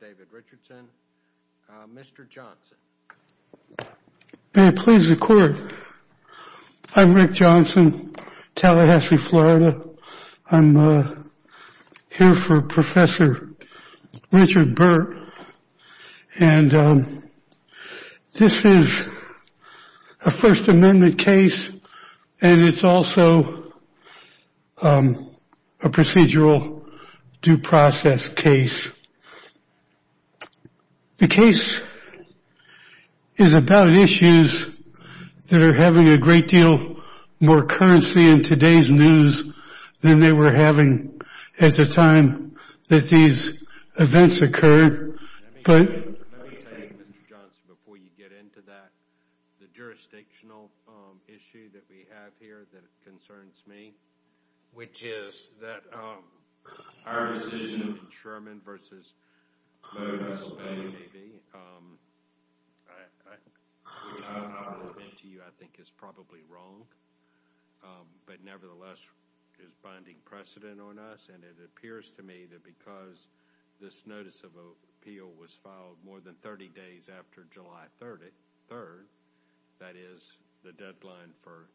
David Richardson, Mr. Johnson. May it please the Court, I'm Rick Johnson, Tallahassee, Florida. I'm here for Professor Richard Burt, and this is a First Amendment case and it's also a procedural due process case. The case is about issues that are having a great deal more currency in today's news than they were having at the time that these events occurred. Let me tell you, Mr. Johnson, before you get into that, the jurisdictional issue that we have here that concerns me, which is that our decision of Sherman v. Burt Russell Bay TV, which I will admit to you, I think is probably wrong, but nevertheless is binding precedent on us, and it appears to me that because this notice of appeal was filed more than 30 days after July 3rd, that is the deadline for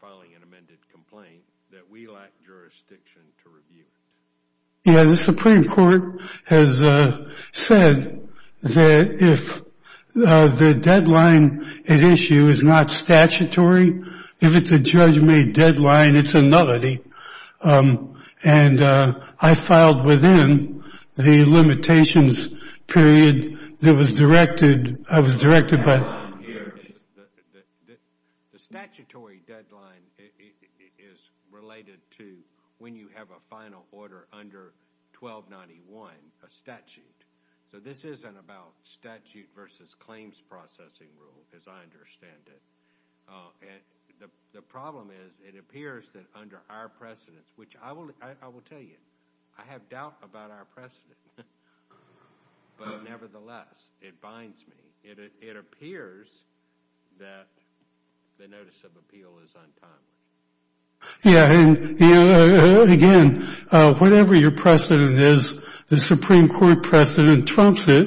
filing an amended complaint, that we lack jurisdiction to review it. Yeah, the Supreme Court has said that if the deadline at issue is not statutory, if it's a judgment deadline, it's a nullity. I filed within the limitations period that was directed by the Supreme Court. The statutory deadline is related to when you have a final order under 1291, a statute. So this isn't about statute versus claims processing rule, as I understand it. The problem is, it appears that under our precedents, which I will tell you, I have doubt about our precedent, but nevertheless, it binds me. It appears that the notice of appeal is untimely. Yeah, and again, whatever your precedent is, the Supreme Court precedent trumps it,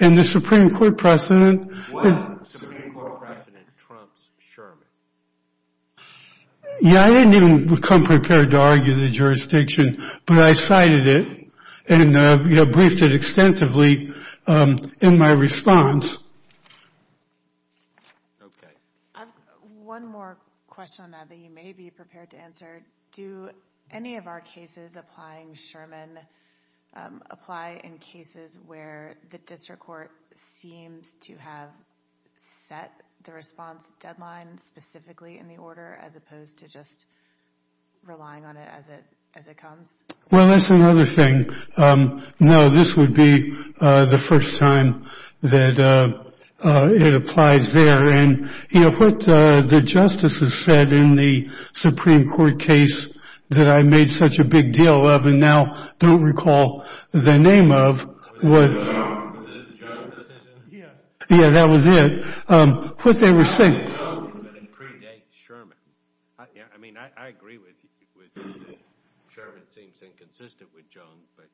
and the Supreme Court precedent... The Supreme Court precedent trumps Sherman. Yeah, I didn't even become prepared to argue the jurisdiction, but I cited it, and briefed it extensively in my response. Okay. One more question on that that you may be prepared to answer. Do any of our cases applying Sherman apply in cases where the district court seems to have set the response deadline specifically in the order, as opposed to just relying on it as it comes? Well, that's another thing. No, this would be the first time that it applies there. And what the justices said in the Supreme Court case that I made such a big deal of, and now don't recall the name of... Was it the Jones decision? Yeah, that was it. What they were saying... It predates Sherman. I mean, I agree with you. Sherman seems inconsistent with Jones, but...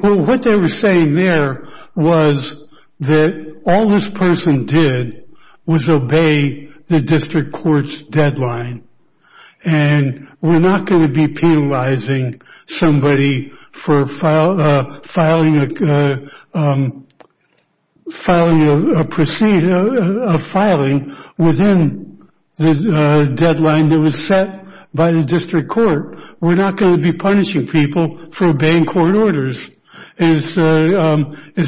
What they were saying there was that all this person did was obey the district court's deadline, and we're not going to be penalizing somebody for filing a proceeding, a filing within the deadline that was set by the district court. We're not going to be punishing people for obeying court orders. It's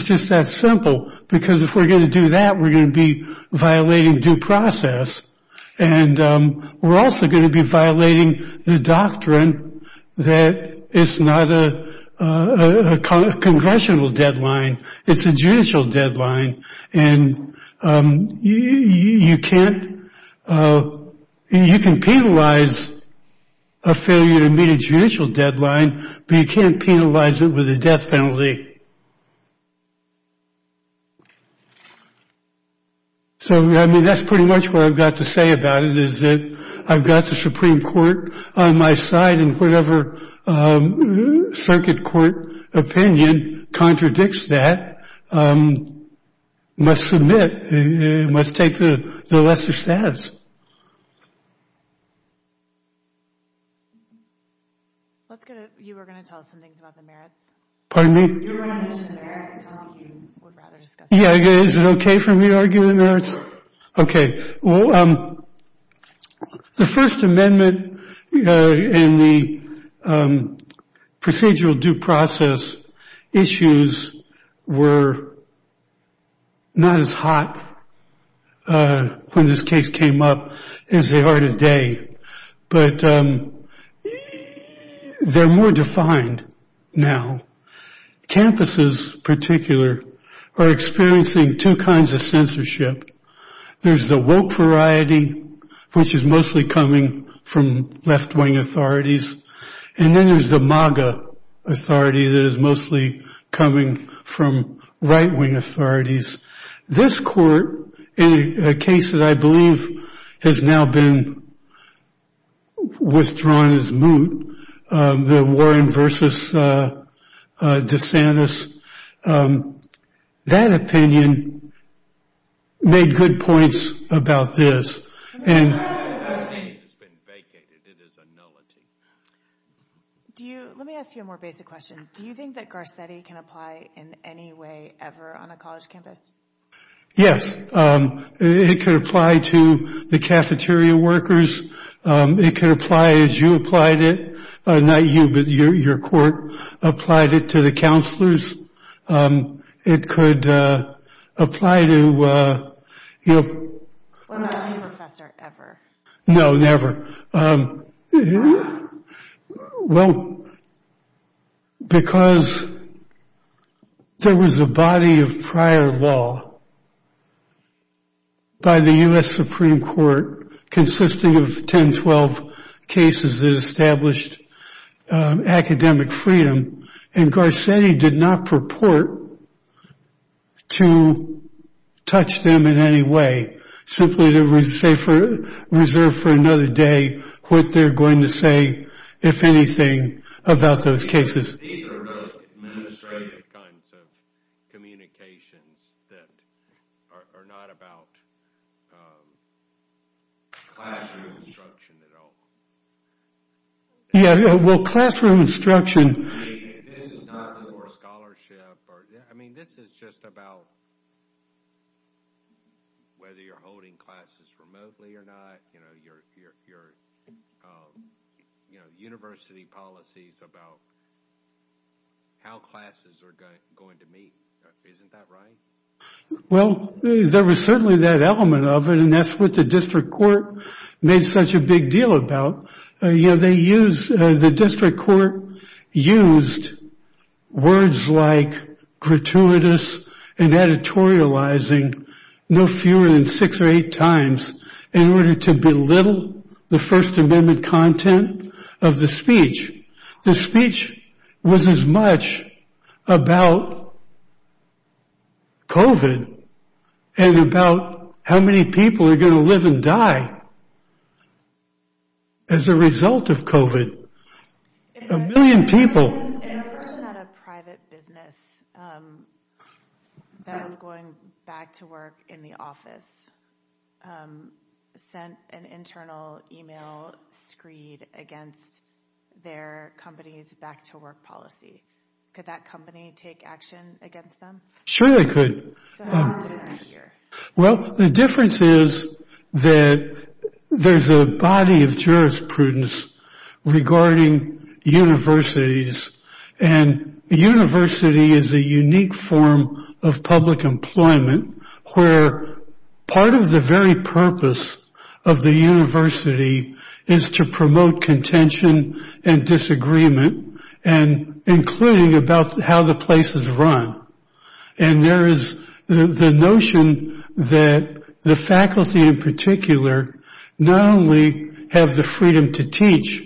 just that simple, because if we're going to do that, we're going to be violating due process. And we're also going to be violating the doctrine that it's not a congressional deadline. It's a judicial deadline. And you can't... You can penalize a failure to meet a judicial deadline, but you can't penalize it with a death penalty. So, I mean, that's pretty much what I've got to say about it, is that I've got the Supreme Court on my side, and whatever circuit court opinion contradicts that must submit. It must take the lesser status. You were going to tell us some things about the merits. Pardon me? You were going to mention the merits. I thought you would rather discuss the merits. Yeah, is it okay for me to argue the merits? Sure. Well, the First Amendment and the procedural due process issues were not as hot when this case came up as they are today, but they're more defined now. Campuses in particular are experiencing two kinds of censorship. There's the woke variety, which is mostly coming from left-wing authorities. And then there's the MAGA authority that is mostly coming from right-wing authorities. This court, in a case that I believe has now been withdrawn as moot, the Warren versus DeSantis, that opinion made good points about this. Let me ask you a more basic question. Do you think that Garcetti can apply in any way ever on a college campus? Yes. It could apply to the cafeteria workers. It could apply as you applied it. Not you, but your court applied it to the counselors. It could apply to... When was the professor ever? No, never. Well, because there was a body of prior law by the U.S. Supreme Court consisting of 10, 12 cases that established academic freedom, and Garcetti did not purport to touch them in any way, simply to reserve for another day what they're going to say, if anything, about those cases. These are administrative kinds of communications that are not about classroom instruction at all. Yeah, well, classroom instruction... This is not for scholarship. I mean, this is just about whether you're holding classes remotely or not. Your university policies about how classes are going to meet, isn't that right? Well, there was certainly that element of it, and that's what the district court made such a big deal about. The district court used words like gratuitous and editorializing no fewer than six or eight times in order to belittle the First Amendment content of the speech. The speech was as much about COVID and about how many people are going to live and die as a result of COVID. A million people. And a person at a private business that was going back to work in the office sent an internal email screed against their company's back-to-work policy. Could that company take action against them? Sure they could. Well, the difference is that there's a body of jurisprudence regarding universities, and a university is a unique form of public employment where part of the very purpose of the university is to promote contention and disagreement, including about how the places run. And there is the notion that the faculty in particular not only have the freedom to teach,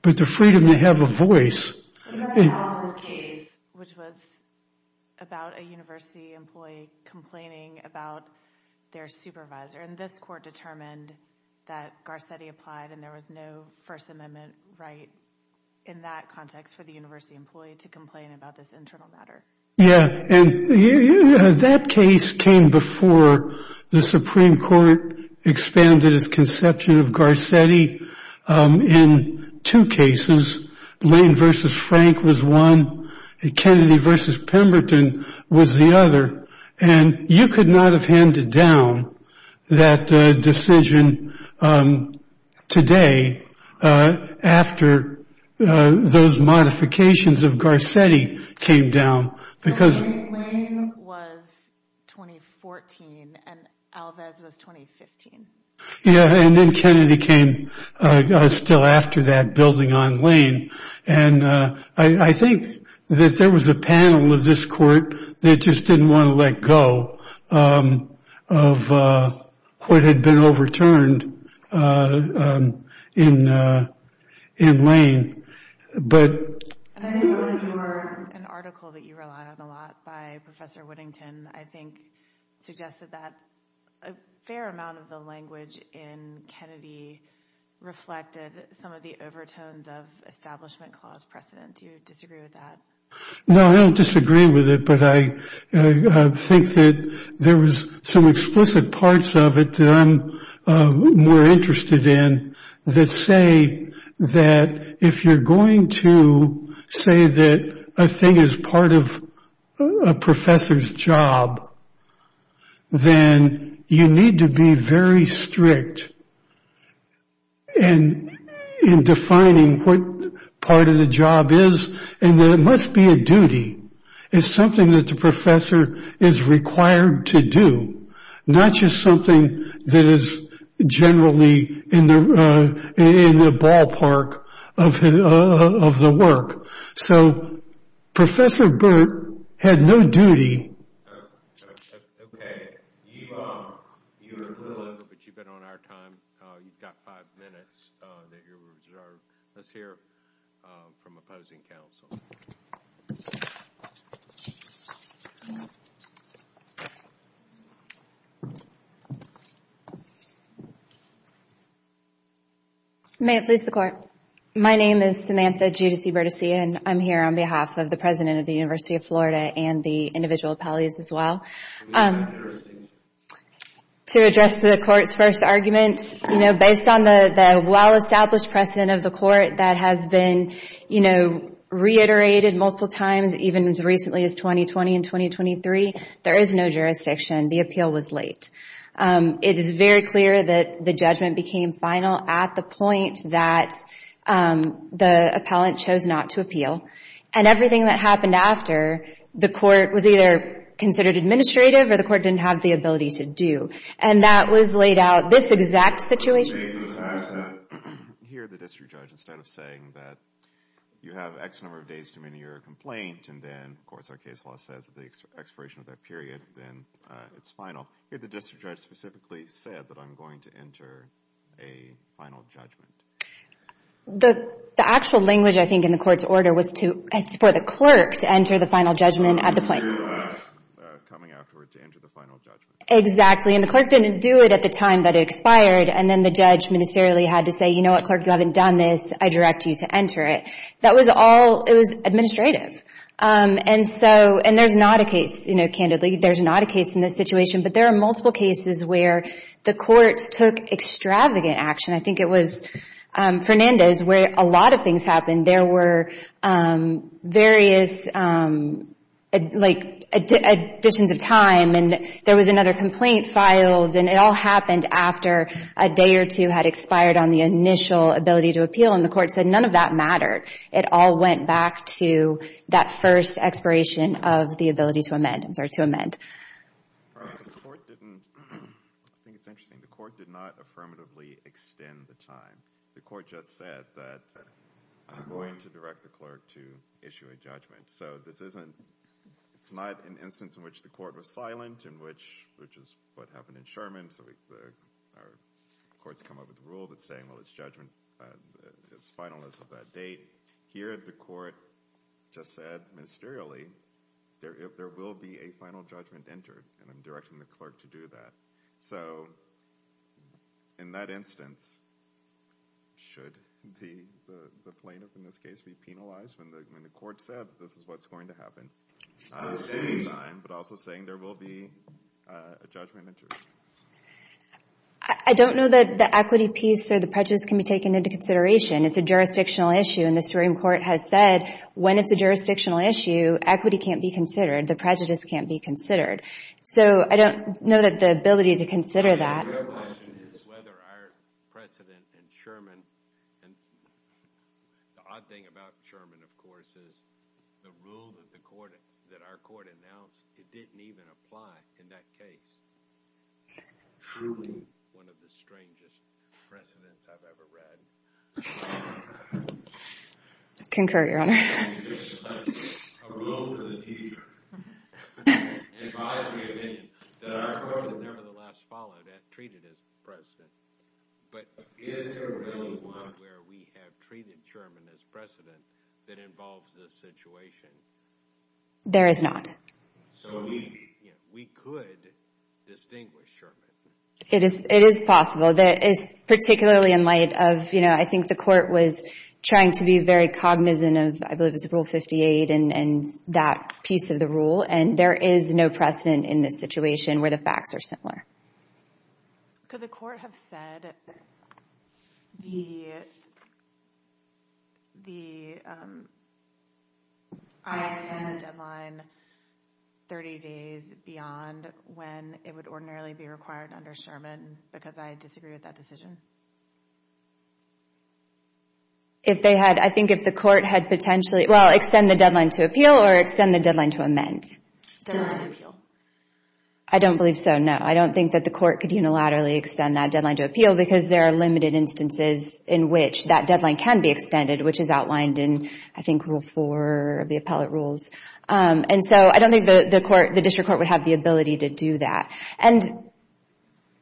but the freedom to have a voice. Which was about a university employee complaining about their supervisor, and this court determined that Garcetti applied and there was no First Amendment right in that context for the university employee to complain about this internal matter. Yeah, and that case came before the Supreme Court expanded its conception of Garcetti in two cases. Lane v. Frank was one. Kennedy v. Pemberton was the other. And you could not have handed down that decision today after those modifications of Garcetti came down. Kennedy v. Lane was 2014 and Alves was 2015. Yeah, and then Kennedy came still after that building on Lane. And I think that there was a panel of this court that just didn't want to let go of what had been overturned in Lane. But I think there was an article that you relied on a lot by Professor Whittington, I think, suggested that a fair amount of the language in Kennedy reflected some of the overtones of Establishment Clause precedent. Do you disagree with that? No, I don't disagree with it, but I think that there was some explicit parts of it that I'm more interested in that say that if you're going to say that a thing is part of a professor's job, then you need to be very strict in defining what part of the job is. And there must be a duty. It's something that the professor is required to do, not just something that is generally in the ballpark of the work. So, Professor Burt had no duty. Okay, Yvonne, you've been on our time. You've got five minutes that you're reserved. Let's hear from opposing counsel. May it please the Court. My name is Samantha Giudice-Burdessy, and I'm here on behalf of the President of the University of Florida and the individual appellees as well. To address the Court's first argument, you know, based on the well-established precedent of the Court that has been, you know, reiterated multiple times, even as recently as 2020 and 2023, there is no jurisdiction. The appeal was late. It is very clear that the judgment became final at the point that the appellant chose not to appeal. And everything that happened after, the Court was either considered administrative, or the Court didn't have the ability to do. And that was laid out this exact situation. The fact that here, the district judge, instead of saying that you have X number of days to amend your complaint, and then, of course, our case law says the expiration of that period, then it's final. Here, the district judge specifically said that I'm going to enter a final judgment. The actual language, I think, in the Court's order was for the clerk to enter the final judgment at the point. Coming afterward to enter the final judgment. Exactly. And the clerk didn't do it at the time that it expired. And then the judge ministerially had to say, you know what, clerk, you haven't done this. I direct you to enter it. That was all, it was administrative. And so, and there's not a case, you know, candidly, there's not a case in this situation. But there are multiple cases where the Courts took extravagant action. I think it was Fernandez where a lot of things happened. There were various, like, additions of time. And there was another complaint filed. And it all happened after a day or two had expired on the initial ability to appeal. And the Court said none of that mattered. It all went back to that first expiration of the ability to amend. I'm sorry, to amend. The Court didn't, I think it's interesting, the Court did not affirmatively extend the time. The Court just said that I'm going to direct the clerk to issue a judgment. So this isn't, it's not an instance in which the Court was silent, in which, which is what happened in Sherman. So the Courts come up with a rule that's saying, well, this judgment, it's final is of that date. Here, the Court just said ministerially, there will be a final judgment entered. And I'm directing the clerk to do that. So in that instance, should the plaintiff in this case be penalized when the Court said this is what's going to happen? But also saying there will be a judgment. I don't know that the equity piece or the prejudice can be taken into consideration. It's a jurisdictional issue. And the Supreme Court has said when it's a jurisdictional issue, equity can't be considered. The prejudice can't be considered. So I don't know that the ability to consider that. Your question is whether our precedent in Sherman, and the odd thing about Sherman, of course, is the rule that the Court, that our Court announced, it didn't even apply in that case. Truly one of the strangest precedents I've ever read. I concur, Your Honor. It's like a rule to the teacher. And by the opinion that our Court has nevertheless followed and treated as precedent. But is there really one where we have treated Sherman as precedent that involves this situation? There is not. So we could distinguish Sherman. It is possible. That is particularly in light of, I think the Court was trying to be very cognizant of, I believe it was Rule 58, and that piece of the rule. And there is no precedent in this situation where the facts are similar. Could the Court have said, I extend a deadline 30 days beyond when it would ordinarily be required under Sherman because I disagree with that decision? If they had, I think if the Court had potentially, well, extend the deadline to appeal or extend the deadline to amend? Deadline to appeal. I don't believe so, no. I don't think that the Court could unilaterally extend that deadline to appeal because there are limited instances in which that deadline can be extended, which is outlined in, I think, Rule 4 of the appellate rules. And so I don't think the District Court would have the ability to do that. And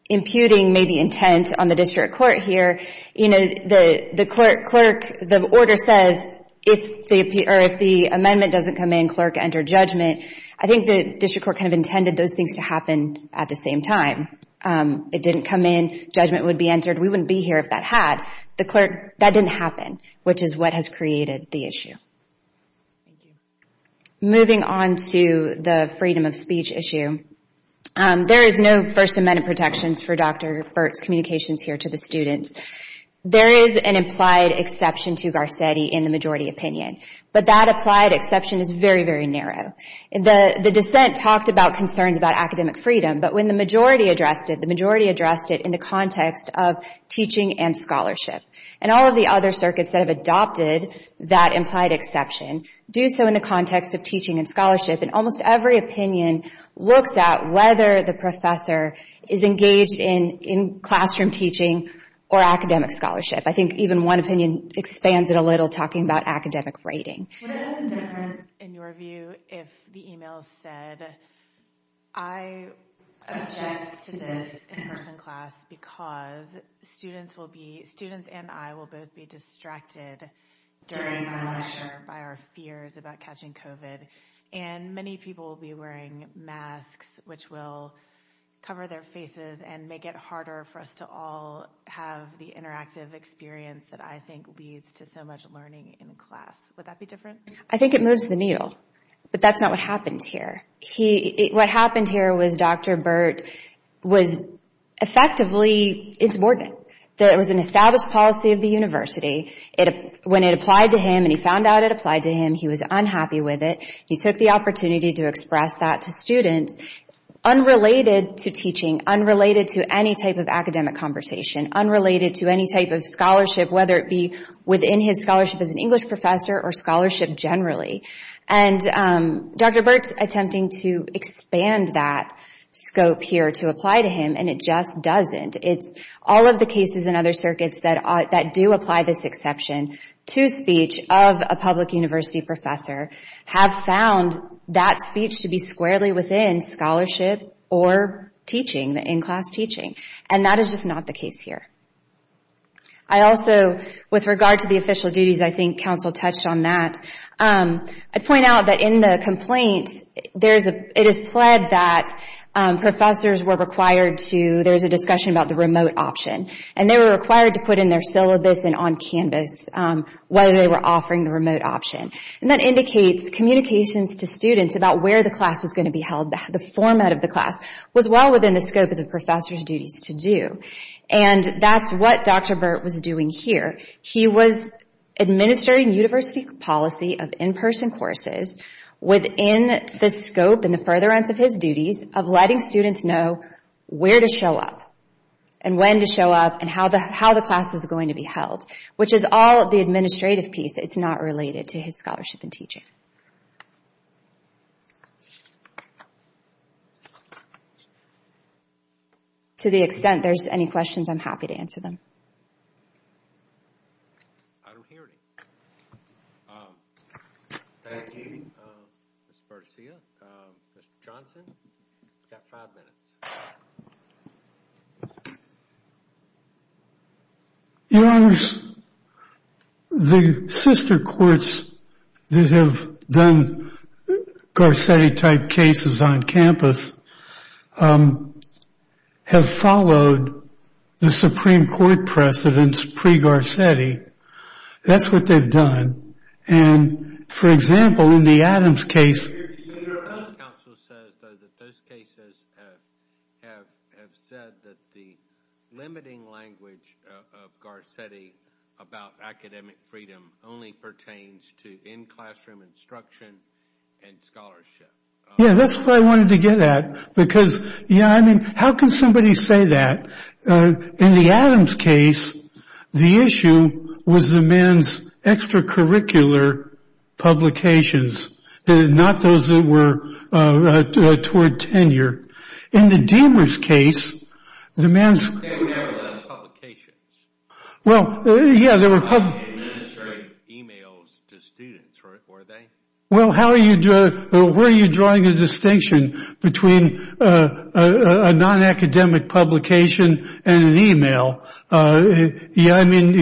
imputing maybe intent on the District Court here, the clerk, the order says if the amendment doesn't come in, clerk enter judgment. I think the District Court kind of intended those things to happen at the same time. It didn't come in. Judgment would be entered. We wouldn't be here if that had. The clerk, that didn't happen, which is what has created the issue. Thank you. Moving on to the freedom of speech issue, there is no First Amendment protections for Dr. Burt's communications here to the students. There is an implied exception to Garcetti in the majority opinion, but that applied exception is very, very narrow. The dissent talked about concerns about academic freedom, but when the majority addressed it, the majority addressed it in the context of teaching and scholarship. And all of the other circuits that have adopted that implied exception do so in the context of teaching and scholarship. And almost every opinion looks at whether the professor is engaged in classroom teaching or academic scholarship. I think even one opinion expands it a little, talking about academic rating. Would it have been different, in your view, if the email said, I object to this in person class because students will be, students and I will both be distracted during our lecture by our fears about catching COVID. And many people will be wearing masks, which will cover their faces and make it harder for us to all have the interactive experience that I think leads to so much learning in class. Would that be different? I think it moves the needle, but that's not what happened here. What happened here was Dr. Burt was effectively, it's Morgan. There was an established policy of the university. When it applied to him and he found out it applied to him, he was unhappy with it. He took the opportunity to express that to students, unrelated to teaching, unrelated to any type of academic conversation, unrelated to any type of scholarship, whether it be within his scholarship as an English professor or scholarship generally. And Dr. Burt's attempting to expand that scope here to apply to him, and it just doesn't. It's all of the cases in other circuits that do apply this exception to speech of a public university professor, have found that speech to be squarely within scholarship or teaching, the in-class teaching. And that is just not the case here. I also, with regard to the official duties, I think council touched on that. I'd point out that in the complaints, it is pled that professors were required to, there was a discussion about the remote option, and they were required to put in their syllabus and on Canvas while they were offering the remote option. And that indicates communications to students about where the class was going to be held, the format of the class was well within the scope of the professor's duties to do. And that's what Dr. Burt was doing here. He was administering university policy of in-person courses within the scope and the furtherance of his duties of letting students know where to show up and when to show up and how the class is going to be held, which is all of the administrative piece. It's not related to his scholarship and teaching. To the extent there's any questions, I'm happy to answer them. Your honors, the sister courts that have done Garcetti type cases on campus have followed the Supreme Court precedents pre-Garcetti. That's what they've done. And for example, in the Adams case, counsel says that those cases have said that the limiting language of Garcetti about academic freedom only pertains to in-classroom instruction and scholarship. Yeah, that's what I wanted to get at. Because, yeah, I mean, how can somebody say that? In the Adams case, the issue was the man's extracurricular publications, not those that were toward tenure. In the Deamer's case, the man's- They were never publications. Well, yeah, they were public- They didn't administrate emails to students, were they? Well, where are you drawing a distinction between a non-academic publication and an email? Yeah, I mean,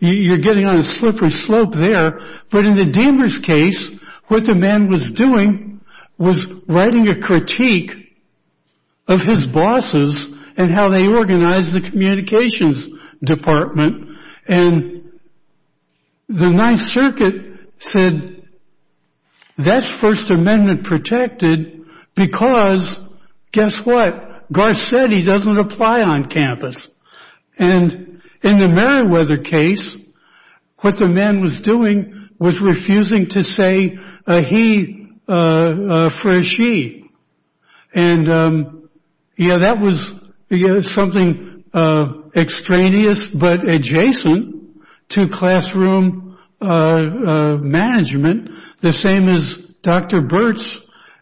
you're getting on a slippery slope there. But in the Deamer's case, what the man was doing was writing a critique of his bosses and how they organized the communications department. And the Ninth Circuit said that's First Amendment protected because, guess what? Garcetti doesn't apply on campus. And in the Merriweather case, what the man was doing was refusing to say a he for a she. And, yeah, that was something extraneous but adjacent to classroom management, the same as Dr. Burt's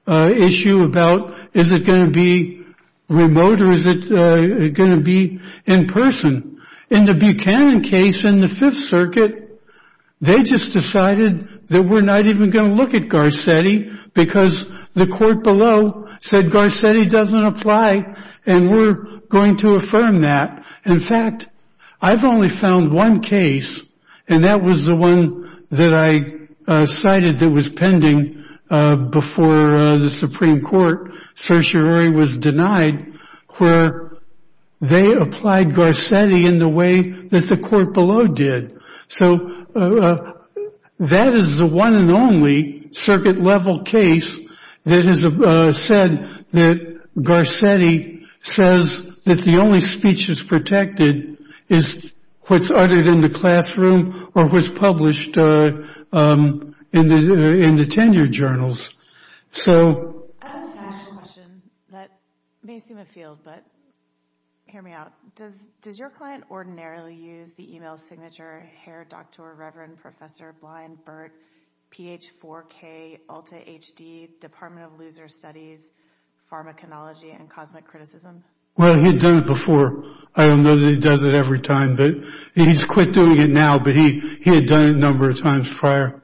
issue about is it going to be remote or is it going to be in person? In the Buchanan case in the Fifth Circuit, they just decided that we're not even going to look at Garcetti because the court below said Garcetti doesn't apply and we're going to affirm that. In fact, I've only found one case, and that was the one that I cited that was pending before the Supreme Court certiorari was denied, where they applied Garcetti in the way that the court below did. So that is the one and only circuit-level case that has said that Garcetti says that the only speech that's protected is what's uttered in the classroom or what's published in the tenure journals. So... I have a question that may seem afield, but hear me out. Does your client ordinarily use the email signature, Hair Doctor, Reverend, Professor, Blind, Burt, PH4K, Ulta HD, Department of Loser Studies, Pharmacology, and Cosmic Criticism? Well, he'd done it before. I don't know that he does it every time, but he's quit doing it now, but he had done it a number of times prior.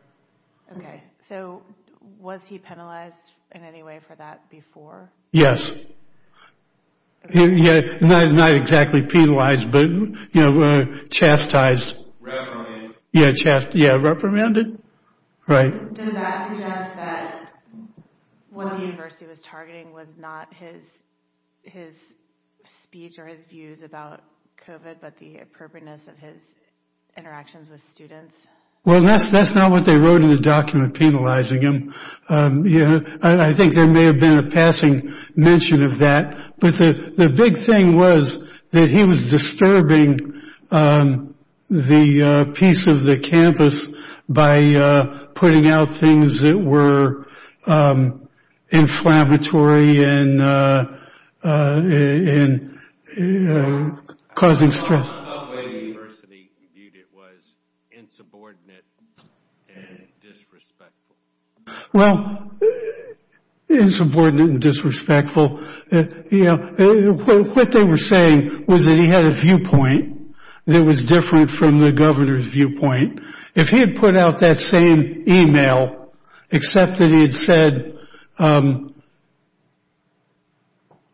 Okay. So was he penalized in any way for that before? Yes. Yeah, not exactly penalized, but, you know, chastised. Reprimanded. Yeah, reprimanded. Does that suggest that what the university was targeting was not his speech or his views about COVID, but the appropriateness of his interactions with students? Well, that's not what they wrote in the document penalizing him. You know, I think there may have been a passing mention of that, but the big thing was that he was disturbing the piece of the campus by putting out things that were inflammatory and causing stress. What way of the university viewed it was insubordinate and disrespectful? Well, insubordinate and disrespectful. What they were saying was that he had a viewpoint that was different from the governor's viewpoint. If he had put out that same email, except that he had said,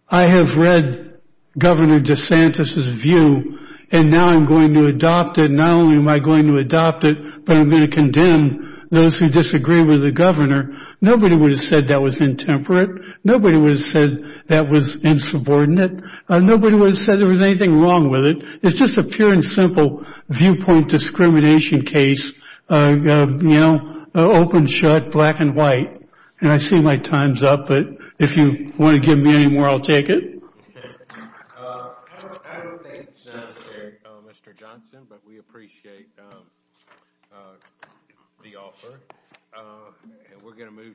I have read Governor DeSantis' view, and now I'm going to adopt it. Not only am I going to adopt it, but I'm going to condemn those who disagree with the governor. Nobody would have said that was intemperate. Nobody would have said that was insubordinate. Nobody would have said there was anything wrong with it. It's just a pure and simple viewpoint discrimination case, you know, open, shut, black and white. And I see my time's up, but if you want to give me any more, I'll take it. I don't think so, Mr. Johnson, but we appreciate the offer. We're going to move to our last case.